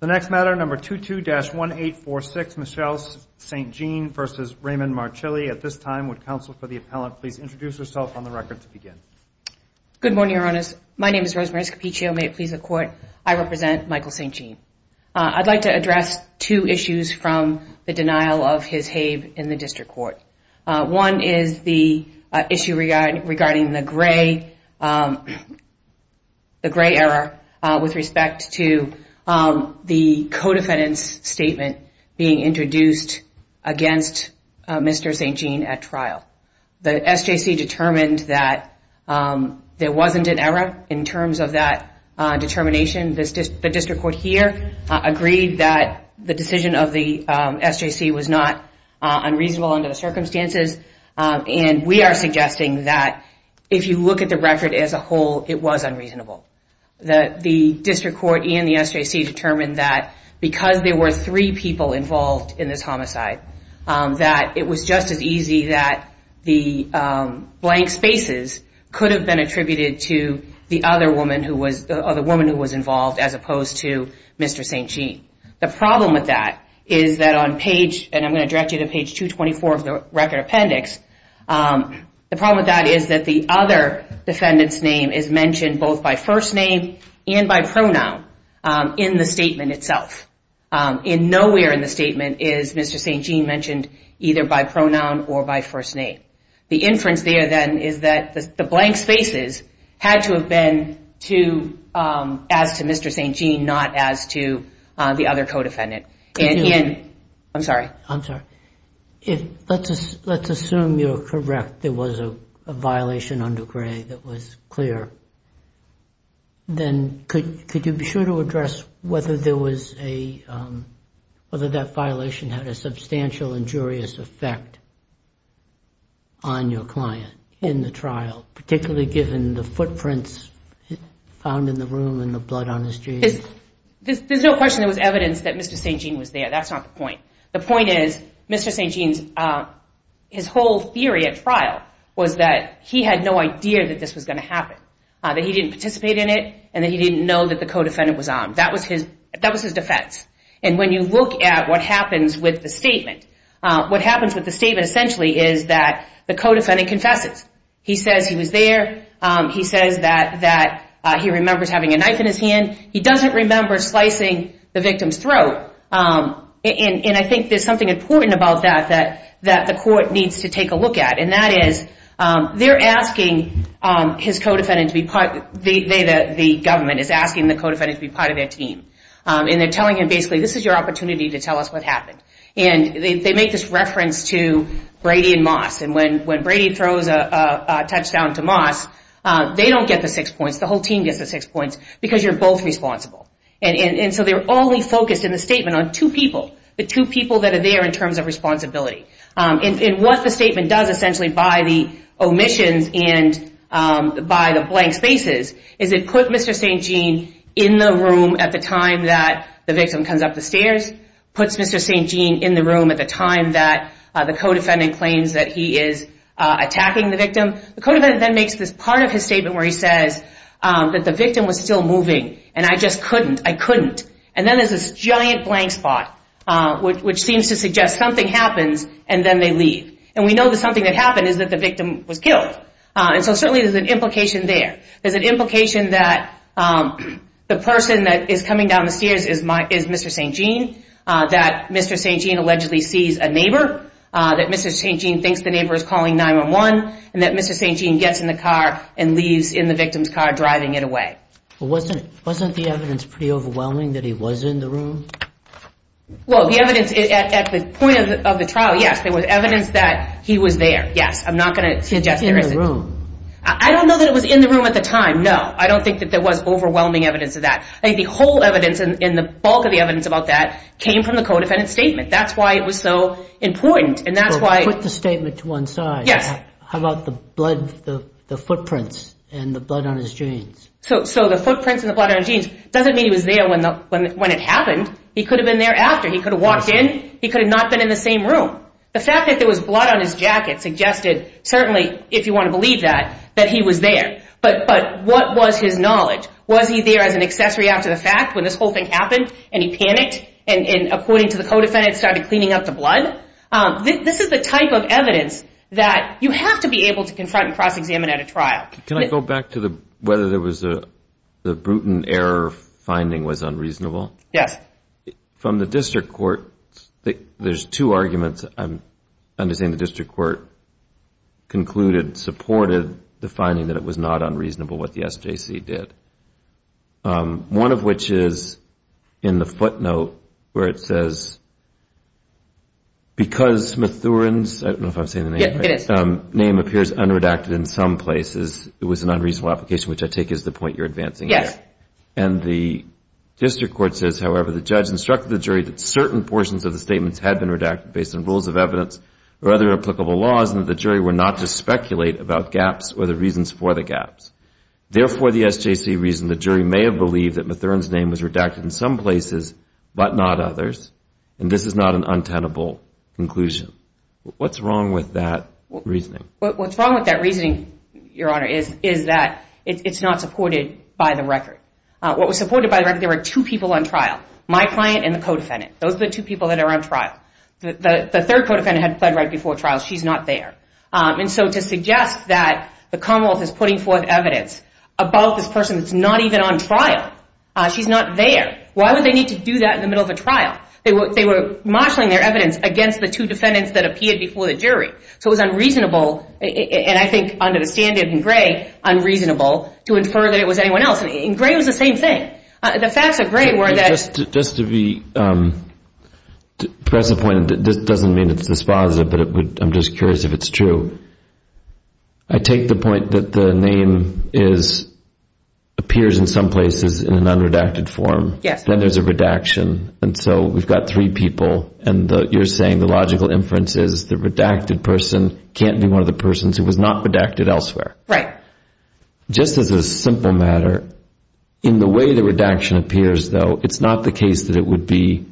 The next matter, number 22-1846, Michelle St. Jean v. Raymond Marchilli. At this time, would counsel for the appellant please introduce herself on the record to begin. Good morning, Your Honors. My name is Rosemary Scappiccio. May it please the Court, I represent Michael St. Jean. I'd like to address two issues from the denial of his HABE in the District Court. One is the issue regarding the gray error with respect to the co-defendant's statement being introduced against Mr. St. Jean at trial. The SJC determined that there wasn't an error in terms of that determination. The District Court here agreed that the decision of the SJC was not unreasonable under the circumstances. And we are suggesting that if you look at the record as a whole, it was unreasonable. The District Court and the SJC determined that because there were three people involved in this homicide, that it was just as easy that the blank spaces could have been attributed to the other woman who was involved as opposed to Mr. St. Jean. The problem with that is that on page, and I'm going to direct you to page 224 of the record appendix, the problem with that is that the other defendant's name is mentioned both by first name and by pronoun in the statement itself. Nowhere in the statement is Mr. St. Jean mentioned either by pronoun or by first name. The inference there then is that the blank spaces had to have been as to Mr. St. Jean, not as to the other co-defendant. I'm sorry. I'm sorry. Let's assume you're correct. There was a violation under Gray that was clear. Then could you be sure to address whether that violation had a substantial injurious effect on your client in the trial, particularly given the footprints found in the room and the blood on his jeans? There's no question there was evidence that Mr. St. Jean was there. That's not the point. The point is Mr. St. Jean's whole theory at trial was that he had no idea that this was going to happen, that he didn't participate in it, and that he didn't know that the co-defendant was armed. That was his defense. And when you look at what happens with the statement, what happens with the statement essentially is that the co-defendant confesses. He says he was there. He says that he remembers having a knife in his hand. He doesn't remember slicing the victim's throat. And I think there's something important about that that the court needs to take a look at, and that is they're asking his co-defendant to be part of it. The government is asking the co-defendant to be part of their team, and they're telling him basically this is your opportunity to tell us what happened. And they make this reference to Brady and Moss, and when Brady throws a touchdown to Moss, they don't get the six points. The whole team gets the six points because you're both responsible. And so they're only focused in the statement on two people, the two people that are there in terms of responsibility. And what the statement does essentially by the omissions and by the blank spaces is it put Mr. St. Jean in the room at the time that the victim comes up the stairs, puts Mr. St. Jean in the room at the time that the co-defendant claims that he is attacking the victim. The co-defendant then makes this part of his statement where he says that the victim was still moving, and I just couldn't, I couldn't. And then there's this giant blank spot which seems to suggest something happens, and then they leave. And we know that something that happened is that the victim was killed. And so certainly there's an implication there. There's an implication that the person that is coming down the stairs is Mr. St. Jean, that Mr. St. Jean allegedly sees a neighbor, that Mr. St. Jean thinks the neighbor is calling 911, and that Mr. St. Jean gets in the car and leaves in the victim's car driving it away. Wasn't the evidence pretty overwhelming that he was in the room? Well, the evidence at the point of the trial, yes, there was evidence that he was there. Yes, I'm not going to suggest there isn't. He's in the room. I don't know that it was in the room at the time, no. I don't think that there was overwhelming evidence of that. I think the whole evidence and the bulk of the evidence about that came from the co-defendant's statement. That's why it was so important, and that's why... Yes. So the footprints and the blood on his jeans doesn't mean he was there when it happened. He could have been there after. He could have walked in. He could have not been in the same room. The fact that there was blood on his jacket suggested certainly, if you want to believe that, that he was there. But what was his knowledge? Was he there as an accessory after the fact when this whole thing happened and he panicked and, according to the co-defendant, started cleaning up the blood? This is the type of evidence that you have to be able to confront and cross-examine at a trial. Can I go back to whether the Bruton error finding was unreasonable? Yes. From the district court, there's two arguments I'm understanding the district court concluded, supported the finding that it was not unreasonable what the SJC did, one of which is in the footnote where it says, because Mathurin's name appears unredacted in some places, it was an unreasonable application, which I take as the point you're advancing here. Yes. And the district court says, however, the judge instructed the jury that certain portions of the statements had been redacted based on rules of evidence or other applicable laws and that the jury were not to speculate about gaps or the reasons for the gaps. Therefore, the SJC reasoned the jury may have believed that Mathurin's name was redacted in some places but not others, and this is not an untenable conclusion. What's wrong with that reasoning? What's wrong with that reasoning, Your Honor, is that it's not supported by the record. What was supported by the record, there were two people on trial, my client and the co-defendant. Those are the two people that are on trial. The third co-defendant had pled right before trial. She's not there. And so to suggest that the Commonwealth is putting forth evidence about this person that's not even on trial, she's not there. Why would they need to do that in the middle of a trial? They were marshalling their evidence against the two defendants that appeared before the jury. So it was unreasonable, and I think under the standard in Gray, unreasonable to infer that it was anyone else. In Gray, it was the same thing. The facts of Gray were that. Just to be present, this doesn't mean it's dispositive, but I'm just curious if it's true. I take the point that the name appears in some places in an unredacted form. Yes. Then there's a redaction, and so we've got three people, and you're saying the logical inference is the redacted person can't be one of the persons who was not redacted elsewhere. Right. Just as a simple matter, in the way the redaction appears, though, it's not the case that it would be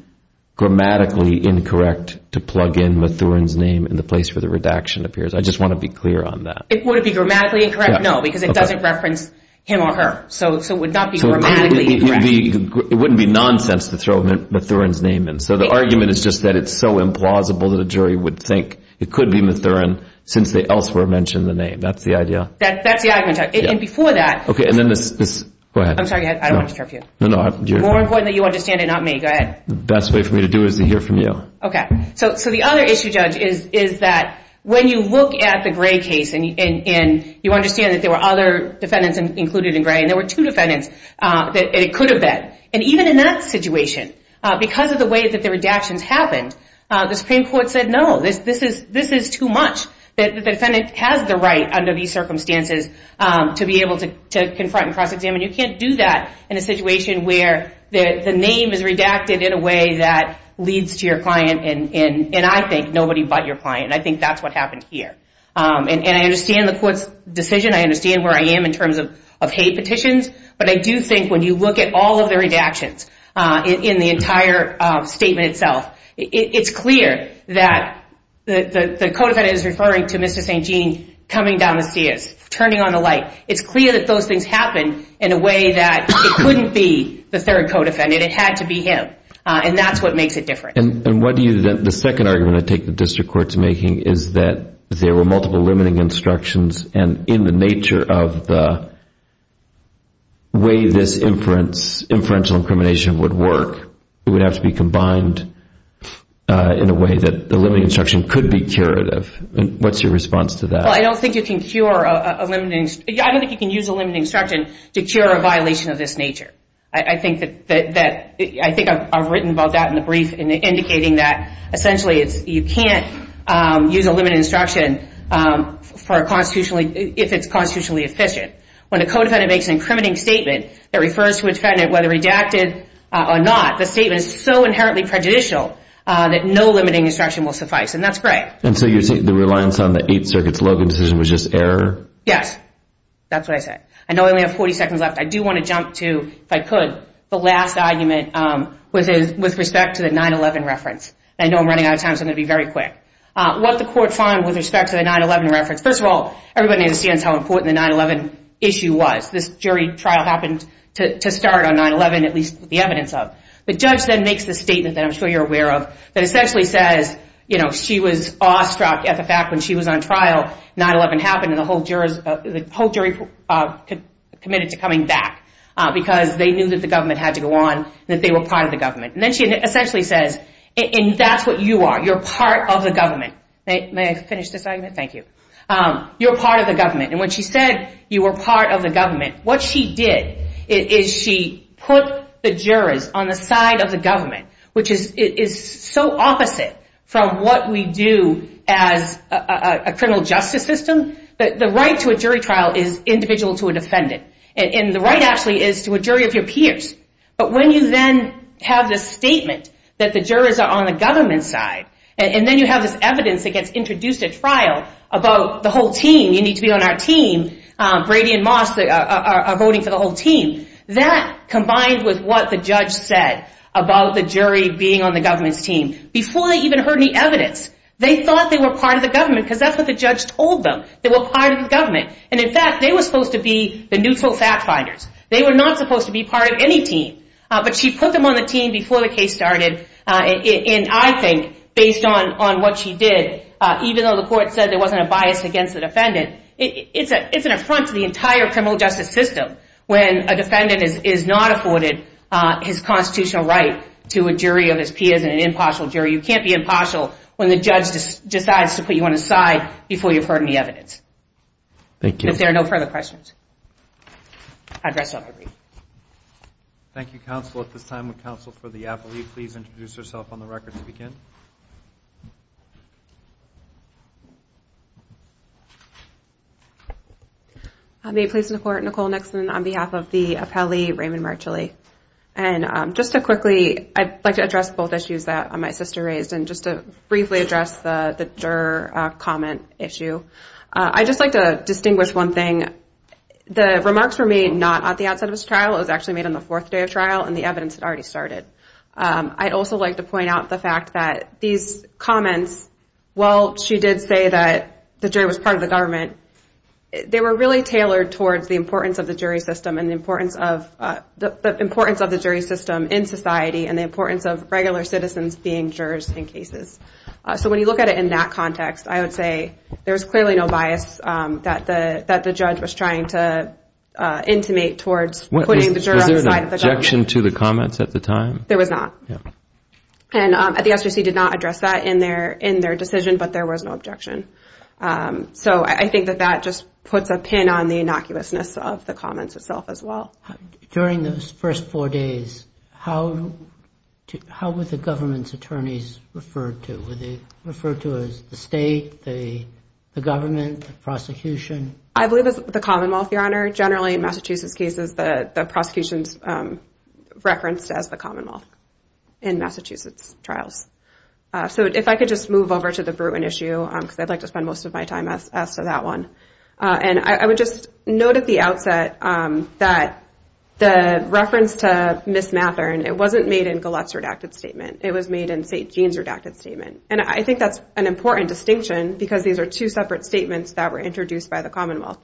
grammatically incorrect to plug in Mathurin's name in the place where the redaction appears. I just want to be clear on that. It wouldn't be grammatically incorrect? No, because it doesn't reference him or her. So it would not be grammatically incorrect. It wouldn't be nonsense to throw Mathurin's name in. So the argument is just that it's so implausible that a jury would think it could be Mathurin since they elsewhere mentioned the name. That's the idea. That's the argument. And before that— Okay, and then this—go ahead. I'm sorry. I don't want to interrupt you. No, no. You're fine. More important that you understand it, not me. Go ahead. The best way for me to do it is to hear from you. Okay. So the other issue, Judge, is that when you look at the Gray case and you understand that there were other defendants included in Gray, and there were two defendants that it could have been, and even in that situation, because of the way that the redactions happened, the Supreme Court said, No, this is too much. The defendant has the right under these circumstances to be able to confront and cross-examine. You can't do that in a situation where the name is redacted in a way that leads to your client and, I think, nobody but your client. I think that's what happened here. And I understand the Court's decision. I understand where I am in terms of hate petitions. But I do think when you look at all of the redactions in the entire statement itself, it's clear that the co-defendant is referring to Mr. St. Gene coming down the stairs, turning on the light. It's clear that those things happened in a way that it couldn't be the third co-defendant. It had to be him. And that's what makes it different. And the second argument I take the district court's making is that there were multiple limiting instructions, and in the nature of the way this inferential incrimination would work, it would have to be combined in a way that the limiting instruction could be curative. What's your response to that? Well, I don't think you can cure a limiting instruction. I don't think you can use a limiting instruction to cure a violation of this nature. I think I've written about that in the brief, indicating that essentially you can't use a limiting instruction if it's constitutionally efficient. When a co-defendant makes an incriminating statement that refers to a defendant whether redacted or not, the statement is so inherently prejudicial that no limiting instruction will suffice. And that's great. And so you're saying the reliance on the Eighth Circuit's Logan decision was just error? Yes. That's what I said. I know I only have 40 seconds left. I do want to jump to, if I could, the last argument with respect to the 9-11 reference. I know I'm running out of time, so I'm going to be very quick. What the court found with respect to the 9-11 reference, first of all, everybody understands how important the 9-11 issue was. This jury trial happened to start on 9-11, at least the evidence of. The judge then makes the statement that I'm sure you're aware of that essentially says, you know, she was awestruck at the fact when she was on trial, 9-11 happened and the whole jury committed to coming back because they knew that the government had to go on, that they were part of the government. And then she essentially says, and that's what you are. You're part of the government. May I finish this argument? Thank you. You're part of the government. And when she said you were part of the government, what she did is she put the jurors on the side of the government, which is so opposite from what we do as a criminal justice system. The right to a jury trial is individual to a defendant. And the right actually is to a jury of your peers. But when you then have this statement that the jurors are on the government's side, and then you have this evidence that gets introduced at trial about the whole team, you need to be on our team, Brady and Moss are voting for the whole team, that combined with what the judge said about the jury being on the government's team, before they even heard any evidence, they thought they were part of the government because that's what the judge told them, they were part of the government. And, in fact, they were supposed to be the neutral fact finders. They were not supposed to be part of any team. But she put them on the team before the case started, and I think based on what she did, even though the court said there wasn't a bias against the defendant, it's an affront to the entire criminal justice system when a defendant is not afforded his constitutional right to a jury of his peers, an impartial jury. You can't be impartial when the judge decides to put you on his side before you've heard any evidence. Thank you. If there are no further questions. Address of the brief. Thank you, counsel. At this time, would counsel for the appellee please introduce herself on the record to begin? May it please the court, Nicole Nixon on behalf of the appellee, Raymond Marchelli. And just to quickly, I'd like to address both issues that my sister raised and just to briefly address the juror comment issue. I'd just like to distinguish one thing. The remarks were made not at the outset of this trial. It was actually made on the fourth day of trial, and the evidence had already started. I'd also like to point out the fact that these comments, while she did say that the jury was part of the government, they were really tailored towards the importance of the jury system and the importance of the jury system in society and the importance of regular citizens being jurors in cases. So when you look at it in that context, I would say there's clearly no bias that the judge was trying to intimate towards putting the juror on the side of the government. Was there an objection to the comments at the time? There was not. And the SJC did not address that in their decision, but there was no objection. So I think that that just puts a pin on the innocuousness of the comments itself as well. During those first four days, how were the government's attorneys referred to? Were they referred to as the state, the government, the prosecution? I believe it was the Commonwealth, Your Honor. Generally in Massachusetts cases, the prosecution is referenced as the Commonwealth in Massachusetts trials. So if I could just move over to the Bruin issue, because I'd like to spend most of my time as to that one. And I would just note at the outset that the reference to Ms. Mathern, it wasn't made in Gillette's redacted statement. It was made in St. Gene's redacted statement. And I think that's an important distinction because these are two separate statements that were introduced by the Commonwealth.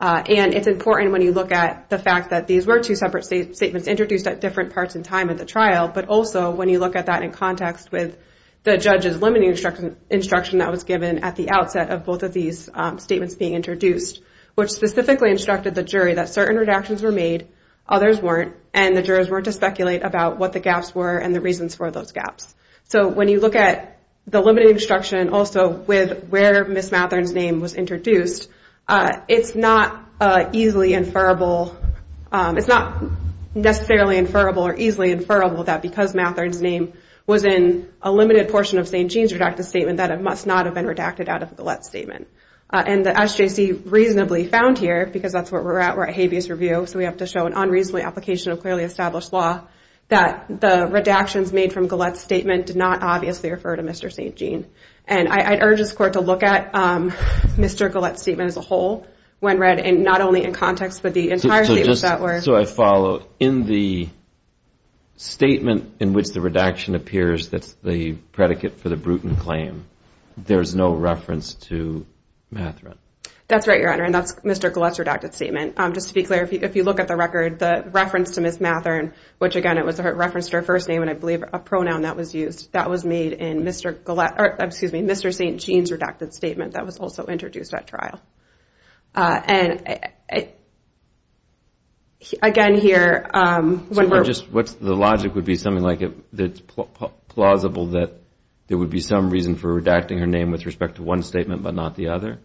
And it's important when you look at the fact that these were two separate statements introduced at different parts in time at the trial, but also when you look at that in context with the judge's limiting instruction that was given at the outset of both of these statements being introduced, which specifically instructed the jury that certain redactions were made, others weren't, and the jurors weren't to speculate about what the gaps were and the reasons for those gaps. So when you look at the limiting instruction also with where Ms. Mathern's name was introduced, it's not easily inferrable, it's not necessarily inferrable or easily inferrable that because Mathern's name was in a limited portion of St. Gene's redacted statement that it must not have been redacted out of a Gillette statement. And as J.C. reasonably found here, because that's where we're at, we're at habeas review, so we have to show an unreasonably application of clearly established law, that the redactions made from Gillette's statement did not obviously refer to Mr. St. Gene. And I'd urge this Court to look at Mr. Gillette's statement as a whole when read not only in context, but the entire statement. Just so I follow, in the statement in which the redaction appears that's the predicate for the Bruton claim, there's no reference to Mathern? That's right, Your Honor, and that's Mr. Gillette's redacted statement. Just to be clear, if you look at the record, the reference to Ms. Mathern, which again it was a reference to her first name and I believe a pronoun that was used, that was made in Mr. St. Gene's redacted statement that was also introduced at trial. And again here, when we're... So the logic would be something like it's plausible that there would be some reason for redacting her name with respect to one statement but not the other?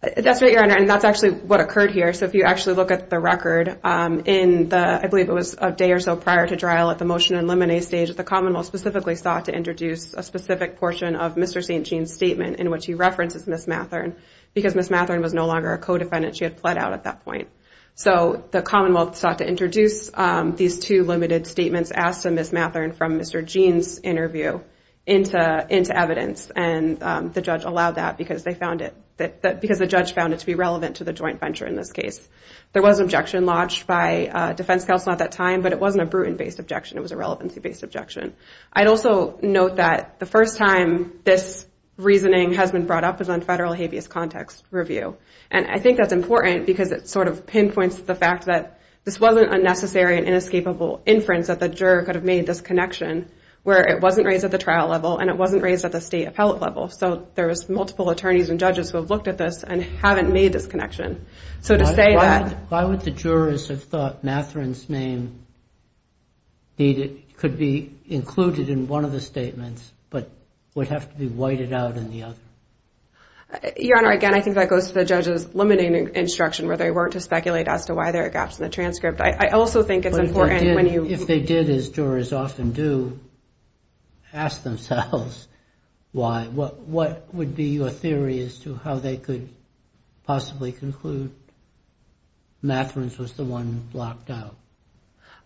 That's right, Your Honor, and that's actually what occurred here. So if you actually look at the record in the, I believe it was a day or so prior to trial at the motion and limine stage, the commonwealth specifically sought to introduce a specific portion of Mr. St. Gene's statement in which he references Ms. Mathern because Ms. Mathern was no longer a co-defendant. She had fled out at that point. So the commonwealth sought to introduce these two limited statements asked of Ms. Mathern from Mr. Gene's interview into evidence, and the judge allowed that because they found it, because the judge found it to be relevant to the joint venture in this case. There was an objection lodged by defense counsel at that time, but it wasn't a Bruton-based objection. It was a relevancy-based objection. I'd also note that the first time this reasoning has been brought up is on federal habeas context review, and I think that's important because it sort of pinpoints the fact that this wasn't a necessary and inescapable inference that the juror could have made this connection where it wasn't raised at the trial level and it wasn't raised at the state appellate level. So there was multiple attorneys and judges who have looked at this and haven't made this connection. Why would the jurors have thought Mathern's name could be included in one of the statements but would have to be whited out in the other? Your Honor, again, I think that goes to the judge's limiting instruction where they weren't to speculate as to why there are gaps in the transcript. I also think it's important when you – If they did, as jurors often do, ask themselves why. What would be your theory as to how they could possibly conclude Mathern's was the one blocked out?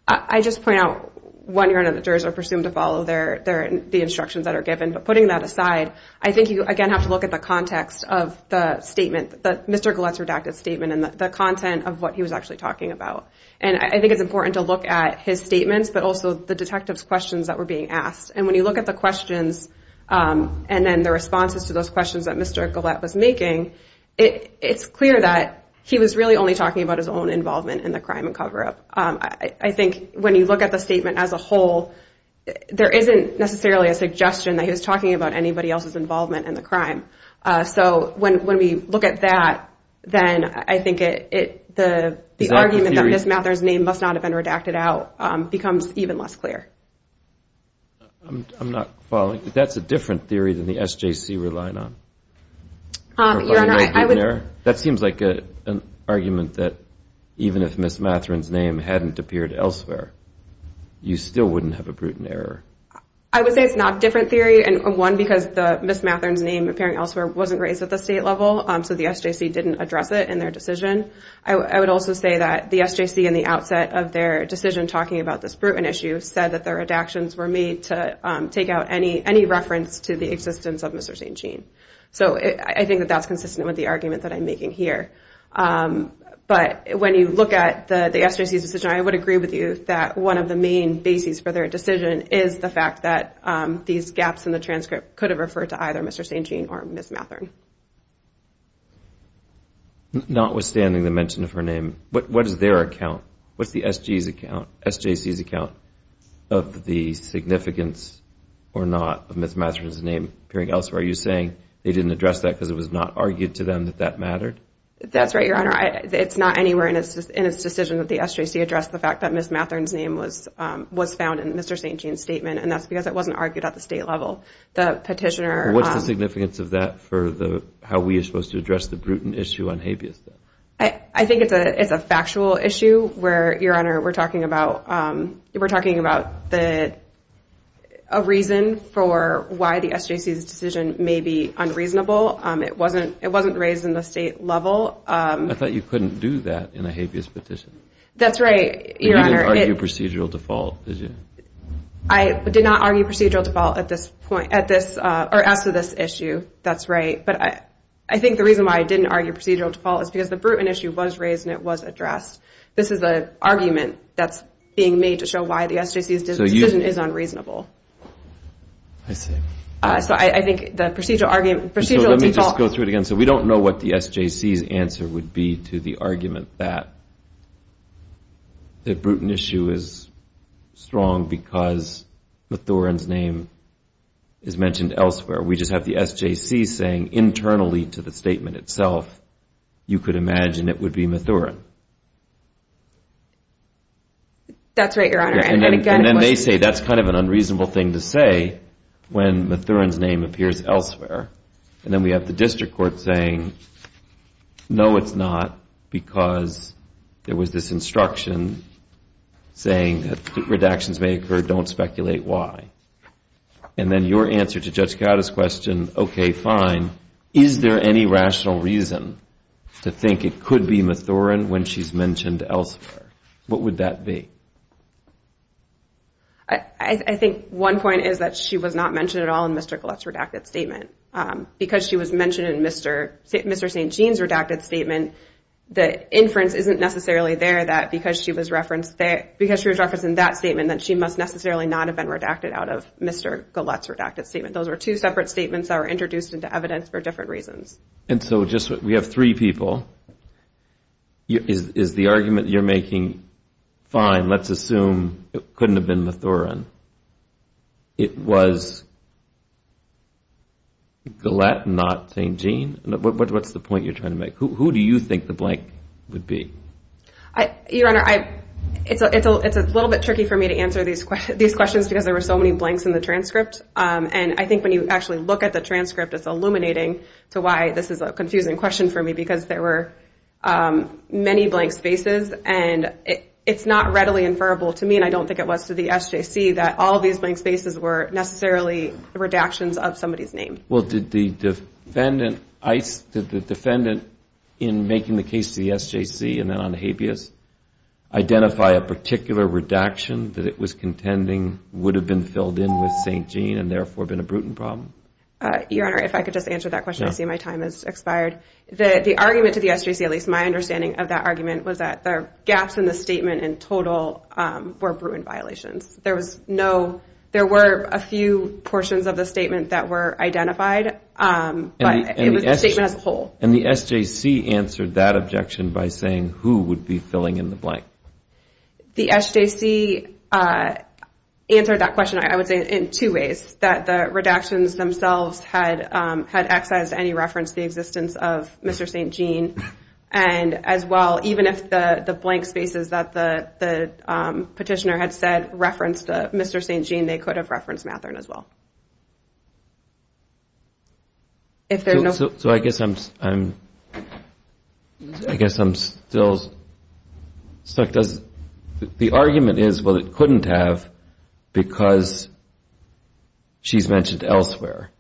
I just point out, Your Honor, that jurors are presumed to follow the instructions that are given. But putting that aside, I think you, again, have to look at the context of the statement, Mr. Gullett's redacted statement and the content of what he was actually talking about. And I think it's important to look at his statements but also the detective's questions that were being asked. And when you look at the questions and then the responses to those questions that Mr. Gullett was making, it's clear that he was really only talking about his own involvement in the crime and cover-up. I think when you look at the statement as a whole, there isn't necessarily a suggestion that he was talking about anybody else's involvement in the crime. So when we look at that, then I think the argument that Mathern's name must not have been redacted out becomes even less clear. I'm not following. That's a different theory than the SJC were relying on. Your Honor, I would. That seems like an argument that even if Ms. Mathern's name hadn't appeared elsewhere, you still wouldn't have a brutal error. I would say it's not a different theory, one, because Ms. Mathern's name appearing elsewhere wasn't raised at the state level, so the SJC didn't address it in their decision. I would also say that the SJC in the outset of their decision talking about this brutal issue said that the redactions were made to take out any reference to the existence of Mr. St. Jean. So I think that that's consistent with the argument that I'm making here. But when you look at the SJC's decision, I would agree with you that one of the main bases for their decision is the fact that these gaps in the transcript could have referred to either Mr. St. Jean or Ms. Mathern. Notwithstanding the mention of her name, what is their account? What's the SJC's account of the significance or not of Ms. Mathern's name appearing elsewhere? Are you saying they didn't address that because it was not argued to them that that mattered? That's right, Your Honor. It's not anywhere in its decision that the SJC addressed the fact that Ms. Mathern's name was found in Mr. St. Jean's statement, and that's because it wasn't argued at the state level. What's the significance of that for how we are supposed to address the brutal issue on habeas? I think it's a factual issue where, Your Honor, we're talking about a reason for why the SJC's decision may be unreasonable. It wasn't raised in the state level. I thought you couldn't do that in a habeas petition. That's right, Your Honor. You didn't argue procedural default, did you? I did not argue procedural default at this point, or as to this issue, that's right. But I think the reason why I didn't argue procedural default is because the brutal issue was raised and it was addressed. This is an argument that's being made to show why the SJC's decision is unreasonable. I see. So I think the procedural default... Let me just go through it again. So we don't know what the SJC's answer would be to the argument that the brutal issue is strong because Mathern's name is mentioned elsewhere. We just have the SJC saying internally to the statement itself, you could imagine it would be Mathern. That's right, Your Honor. And then they say that's kind of an unreasonable thing to say when Mathern's name appears elsewhere. And then we have the district court saying, no, it's not, because there was this instruction saying that redactions may occur. Don't speculate why. And then your answer to Judge Chiara's question, okay, fine, is there any rational reason to think it could be Mathern when she's mentioned elsewhere? What would that be? I think one point is that she was not mentioned at all in Mr. Gullett's redacted statement. Because she was mentioned in Mr. St. Jean's redacted statement, the inference isn't necessarily there that because she was referenced in that statement, that she must necessarily not have been redacted out of Mr. Gullett's redacted statement. Those are two separate statements that were introduced into evidence for different reasons. And so we have three people. Is the argument you're making fine? Let's assume it couldn't have been Mathern. It was Gullett, not St. Jean? What's the point you're trying to make? Who do you think the blank would be? Your Honor, it's a little bit tricky for me to answer these questions because there were so many blanks in the transcript. And I think when you actually look at the transcript, it's illuminating to why this is a confusing question for me because there were many blank spaces. And it's not readily inferable to me, and I don't think it was to the SJC, that all these blank spaces were necessarily redactions of somebody's name. Well, did the defendant in making the case to the SJC and then on habeas identify a particular redaction that it was contending would have been filled in with St. Jean and therefore been a Bruton problem? Your Honor, if I could just answer that question, I see my time has expired. The argument to the SJC, at least my understanding of that argument, was that the gaps in the statement in total were Bruton violations. There were a few portions of the statement that were identified, but it was the statement as a whole. And the SJC answered that objection by saying who would be filling in the blank? The SJC answered that question, I would say, in two ways. That the redactions themselves had excised any reference to the existence of Mr. St. Jean. And as well, even if the blank spaces that the petitioner had said referenced Mr. St. Jean, they could have referenced Mathern as well. So I guess I'm still stuck. The argument is, well, it couldn't have because she's mentioned elsewhere.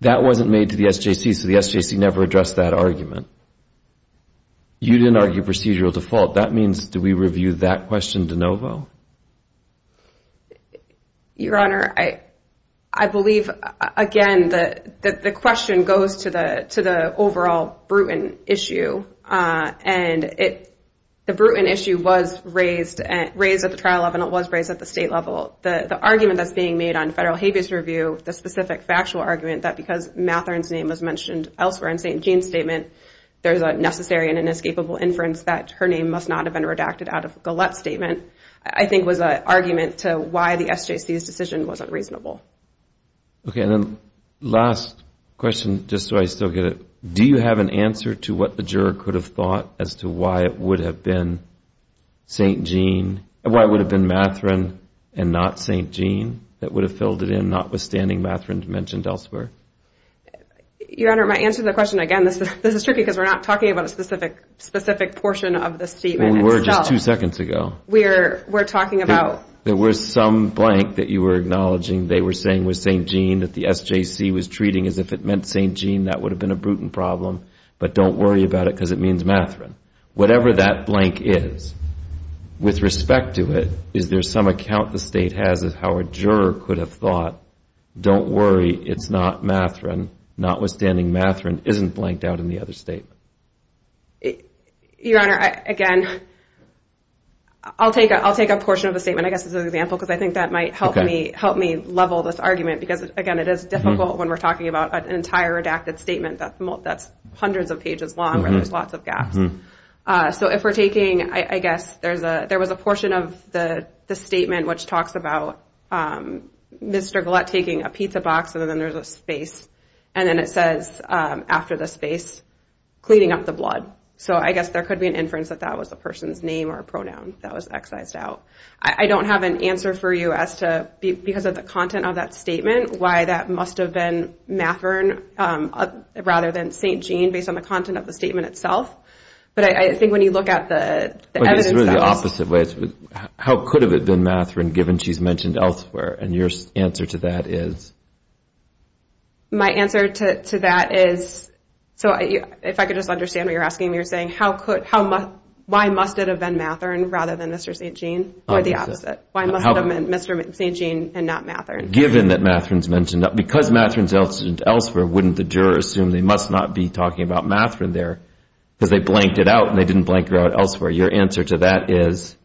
That wasn't made to the SJC, so the SJC never addressed that argument. You didn't argue procedural default. That means do we review that question de novo? Your Honor, I believe, again, that the question goes to the overall Bruton issue. And the Bruton issue was raised at the trial level and it was raised at the state level. The argument that's being made on federal habeas review, the specific factual argument, that because Mathern's name was mentioned elsewhere in St. Jean's statement, there's a necessary and inescapable inference that her name must not have been redacted out of Gullett's statement, I think was an argument to why the SJC's decision wasn't reasonable. Okay, and then last question, just so I still get it. Do you have an answer to what the juror could have thought as to why it would have been St. Jean, why it would have been Mathern and not St. Jean that would have filled it in notwithstanding Mathern's mention elsewhere? Your Honor, my answer to the question, again, this is tricky because we're not talking about a specific portion of the statement. Well, we were just two seconds ago. We're talking about. There was some blank that you were acknowledging they were saying was St. Jean, that the SJC was treating as if it meant St. Jean, that would have been a Bruton problem. But don't worry about it because it means Mathern. Whatever that blank is, with respect to it, is there some account the state has of how a juror could have thought, don't worry, it's not Mathern, notwithstanding Mathern isn't blanked out in the other statement. Your Honor, again, I'll take a portion of the statement, I guess, as an example, because I think that might help me level this argument because, again, it is difficult when we're talking about an entire redacted statement that's hundreds of pages long where there's lots of gaps. So if we're taking, I guess, there was a portion of the statement which talks about Mr. Gullett taking a pizza box and then there's a space and then it says, after the space, cleaning up the blood. So I guess there could be an inference that that was a person's name or a pronoun that was excised out. I don't have an answer for you as to, because of the content of that statement, why that must have been Mathern rather than St. Gene based on the content of the statement itself. But I think when you look at the evidence... But it's really the opposite way. How could it have been Mathern given she's mentioned elsewhere? And your answer to that is? My answer to that is, if I could just understand what you're asking me, you're saying why must it have been Mathern rather than Mr. St. Gene or the opposite? Why must it have been Mr. St. Gene and not Mathern? Given that Mathern's mentioned elsewhere, wouldn't the juror assume they must not be talking about Mathern there because they blanked it out and they didn't blank it out elsewhere? Your answer to that is?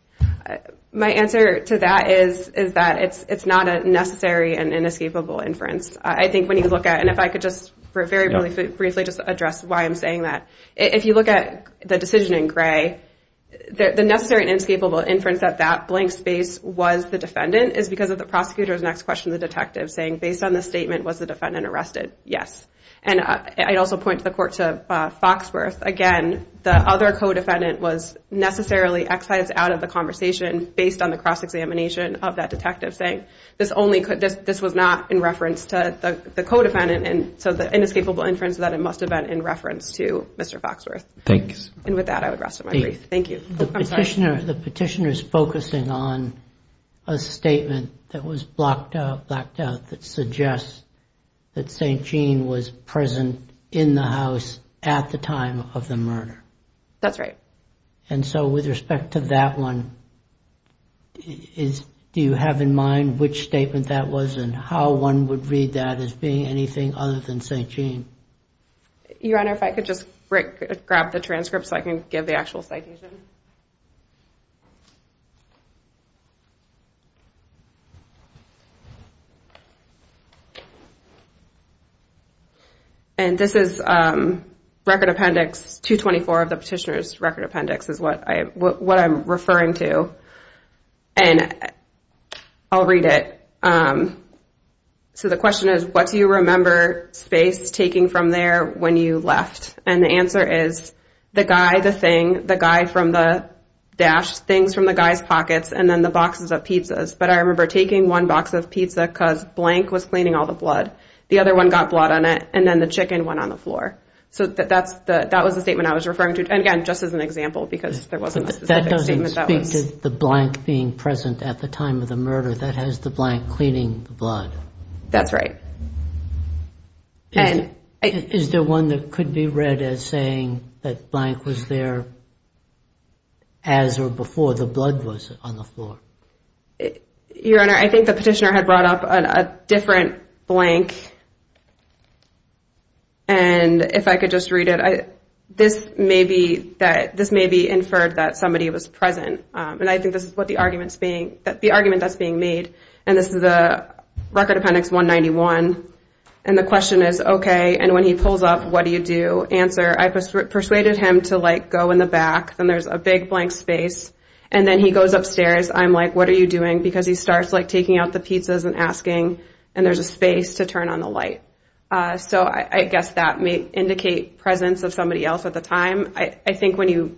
My answer to that is that it's not a necessary and inescapable inference. I think when you look at it, and if I could just very briefly just address why I'm saying that. If you look at the decision in gray, the necessary and inescapable inference that that blank space was the defendant is because of the prosecutor's next question to the detective saying, based on the statement, was the defendant arrested? Yes. And I'd also point to the court to Foxworth. Again, the other co-defendant was necessarily excised out of the conversation based on the cross-examination of that detective saying, this was not in reference to the co-defendant, and so the inescapable inference is that it must have been in reference to Mr. Foxworth. Thanks. And with that, I would rest my brief. Thank you. The petitioner is focusing on a statement that was blocked out, that suggests that St. Gene was present in the house at the time of the murder. That's right. And so with respect to that one, do you have in mind which statement that was and how one would read that as being anything other than St. Gene? Your Honor, if I could just grab the transcript so I can give the actual citation. And this is Record Appendix 224 of the petitioner's Record Appendix is what I'm referring to. And I'll read it. So the question is, what do you remember Space taking from there when you left? And the answer is, the guy, the thing, the guy from the dash, things from the guy's pockets, and then the boxes of pizzas. But I remember taking one box of pizza because Blank was cleaning all the blood. The other one got blood on it, and then the chicken went on the floor. So that was the statement I was referring to. And, again, just as an example because there wasn't a specific statement. That doesn't speak to the Blank being present at the time of the murder. That has the Blank cleaning the blood. That's right. Is there one that could be read as saying that Blank was there as or before the blood was on the floor? Your Honor, I think the petitioner had brought up a different Blank. And if I could just read it, this may be inferred that somebody was present. And I think this is the argument that's being made. And this is the Record Appendix 191. And the question is, okay, and when he pulls up, what do you do? Answer, I persuaded him to, like, go in the back. Then there's a big Blank space. And then he goes upstairs. I'm like, what are you doing? Because he starts, like, taking out the pizzas and asking. And there's a space to turn on the light. So I guess that may indicate presence of somebody else at the time. I think when you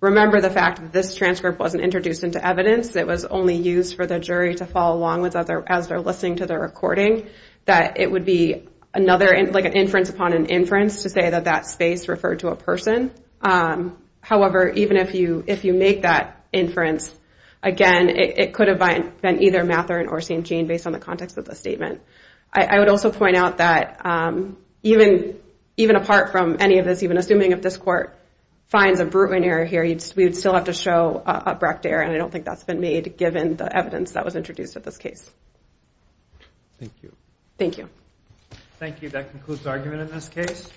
remember the fact that this transcript wasn't introduced into evidence, it was only used for the jury to follow along as they're listening to the recording, that it would be another, like an inference upon an inference to say that that space referred to a person. However, even if you make that inference, again, it could have been either Mathern or St. Jean based on the context of the statement. I would also point out that even apart from any of this, even assuming if this court finds a Brutman error here, we would still have to show a Brecht error, and I don't think that's been made given the evidence that was introduced in this case. Thank you. Thank you. Thank you. That concludes the argument in this case.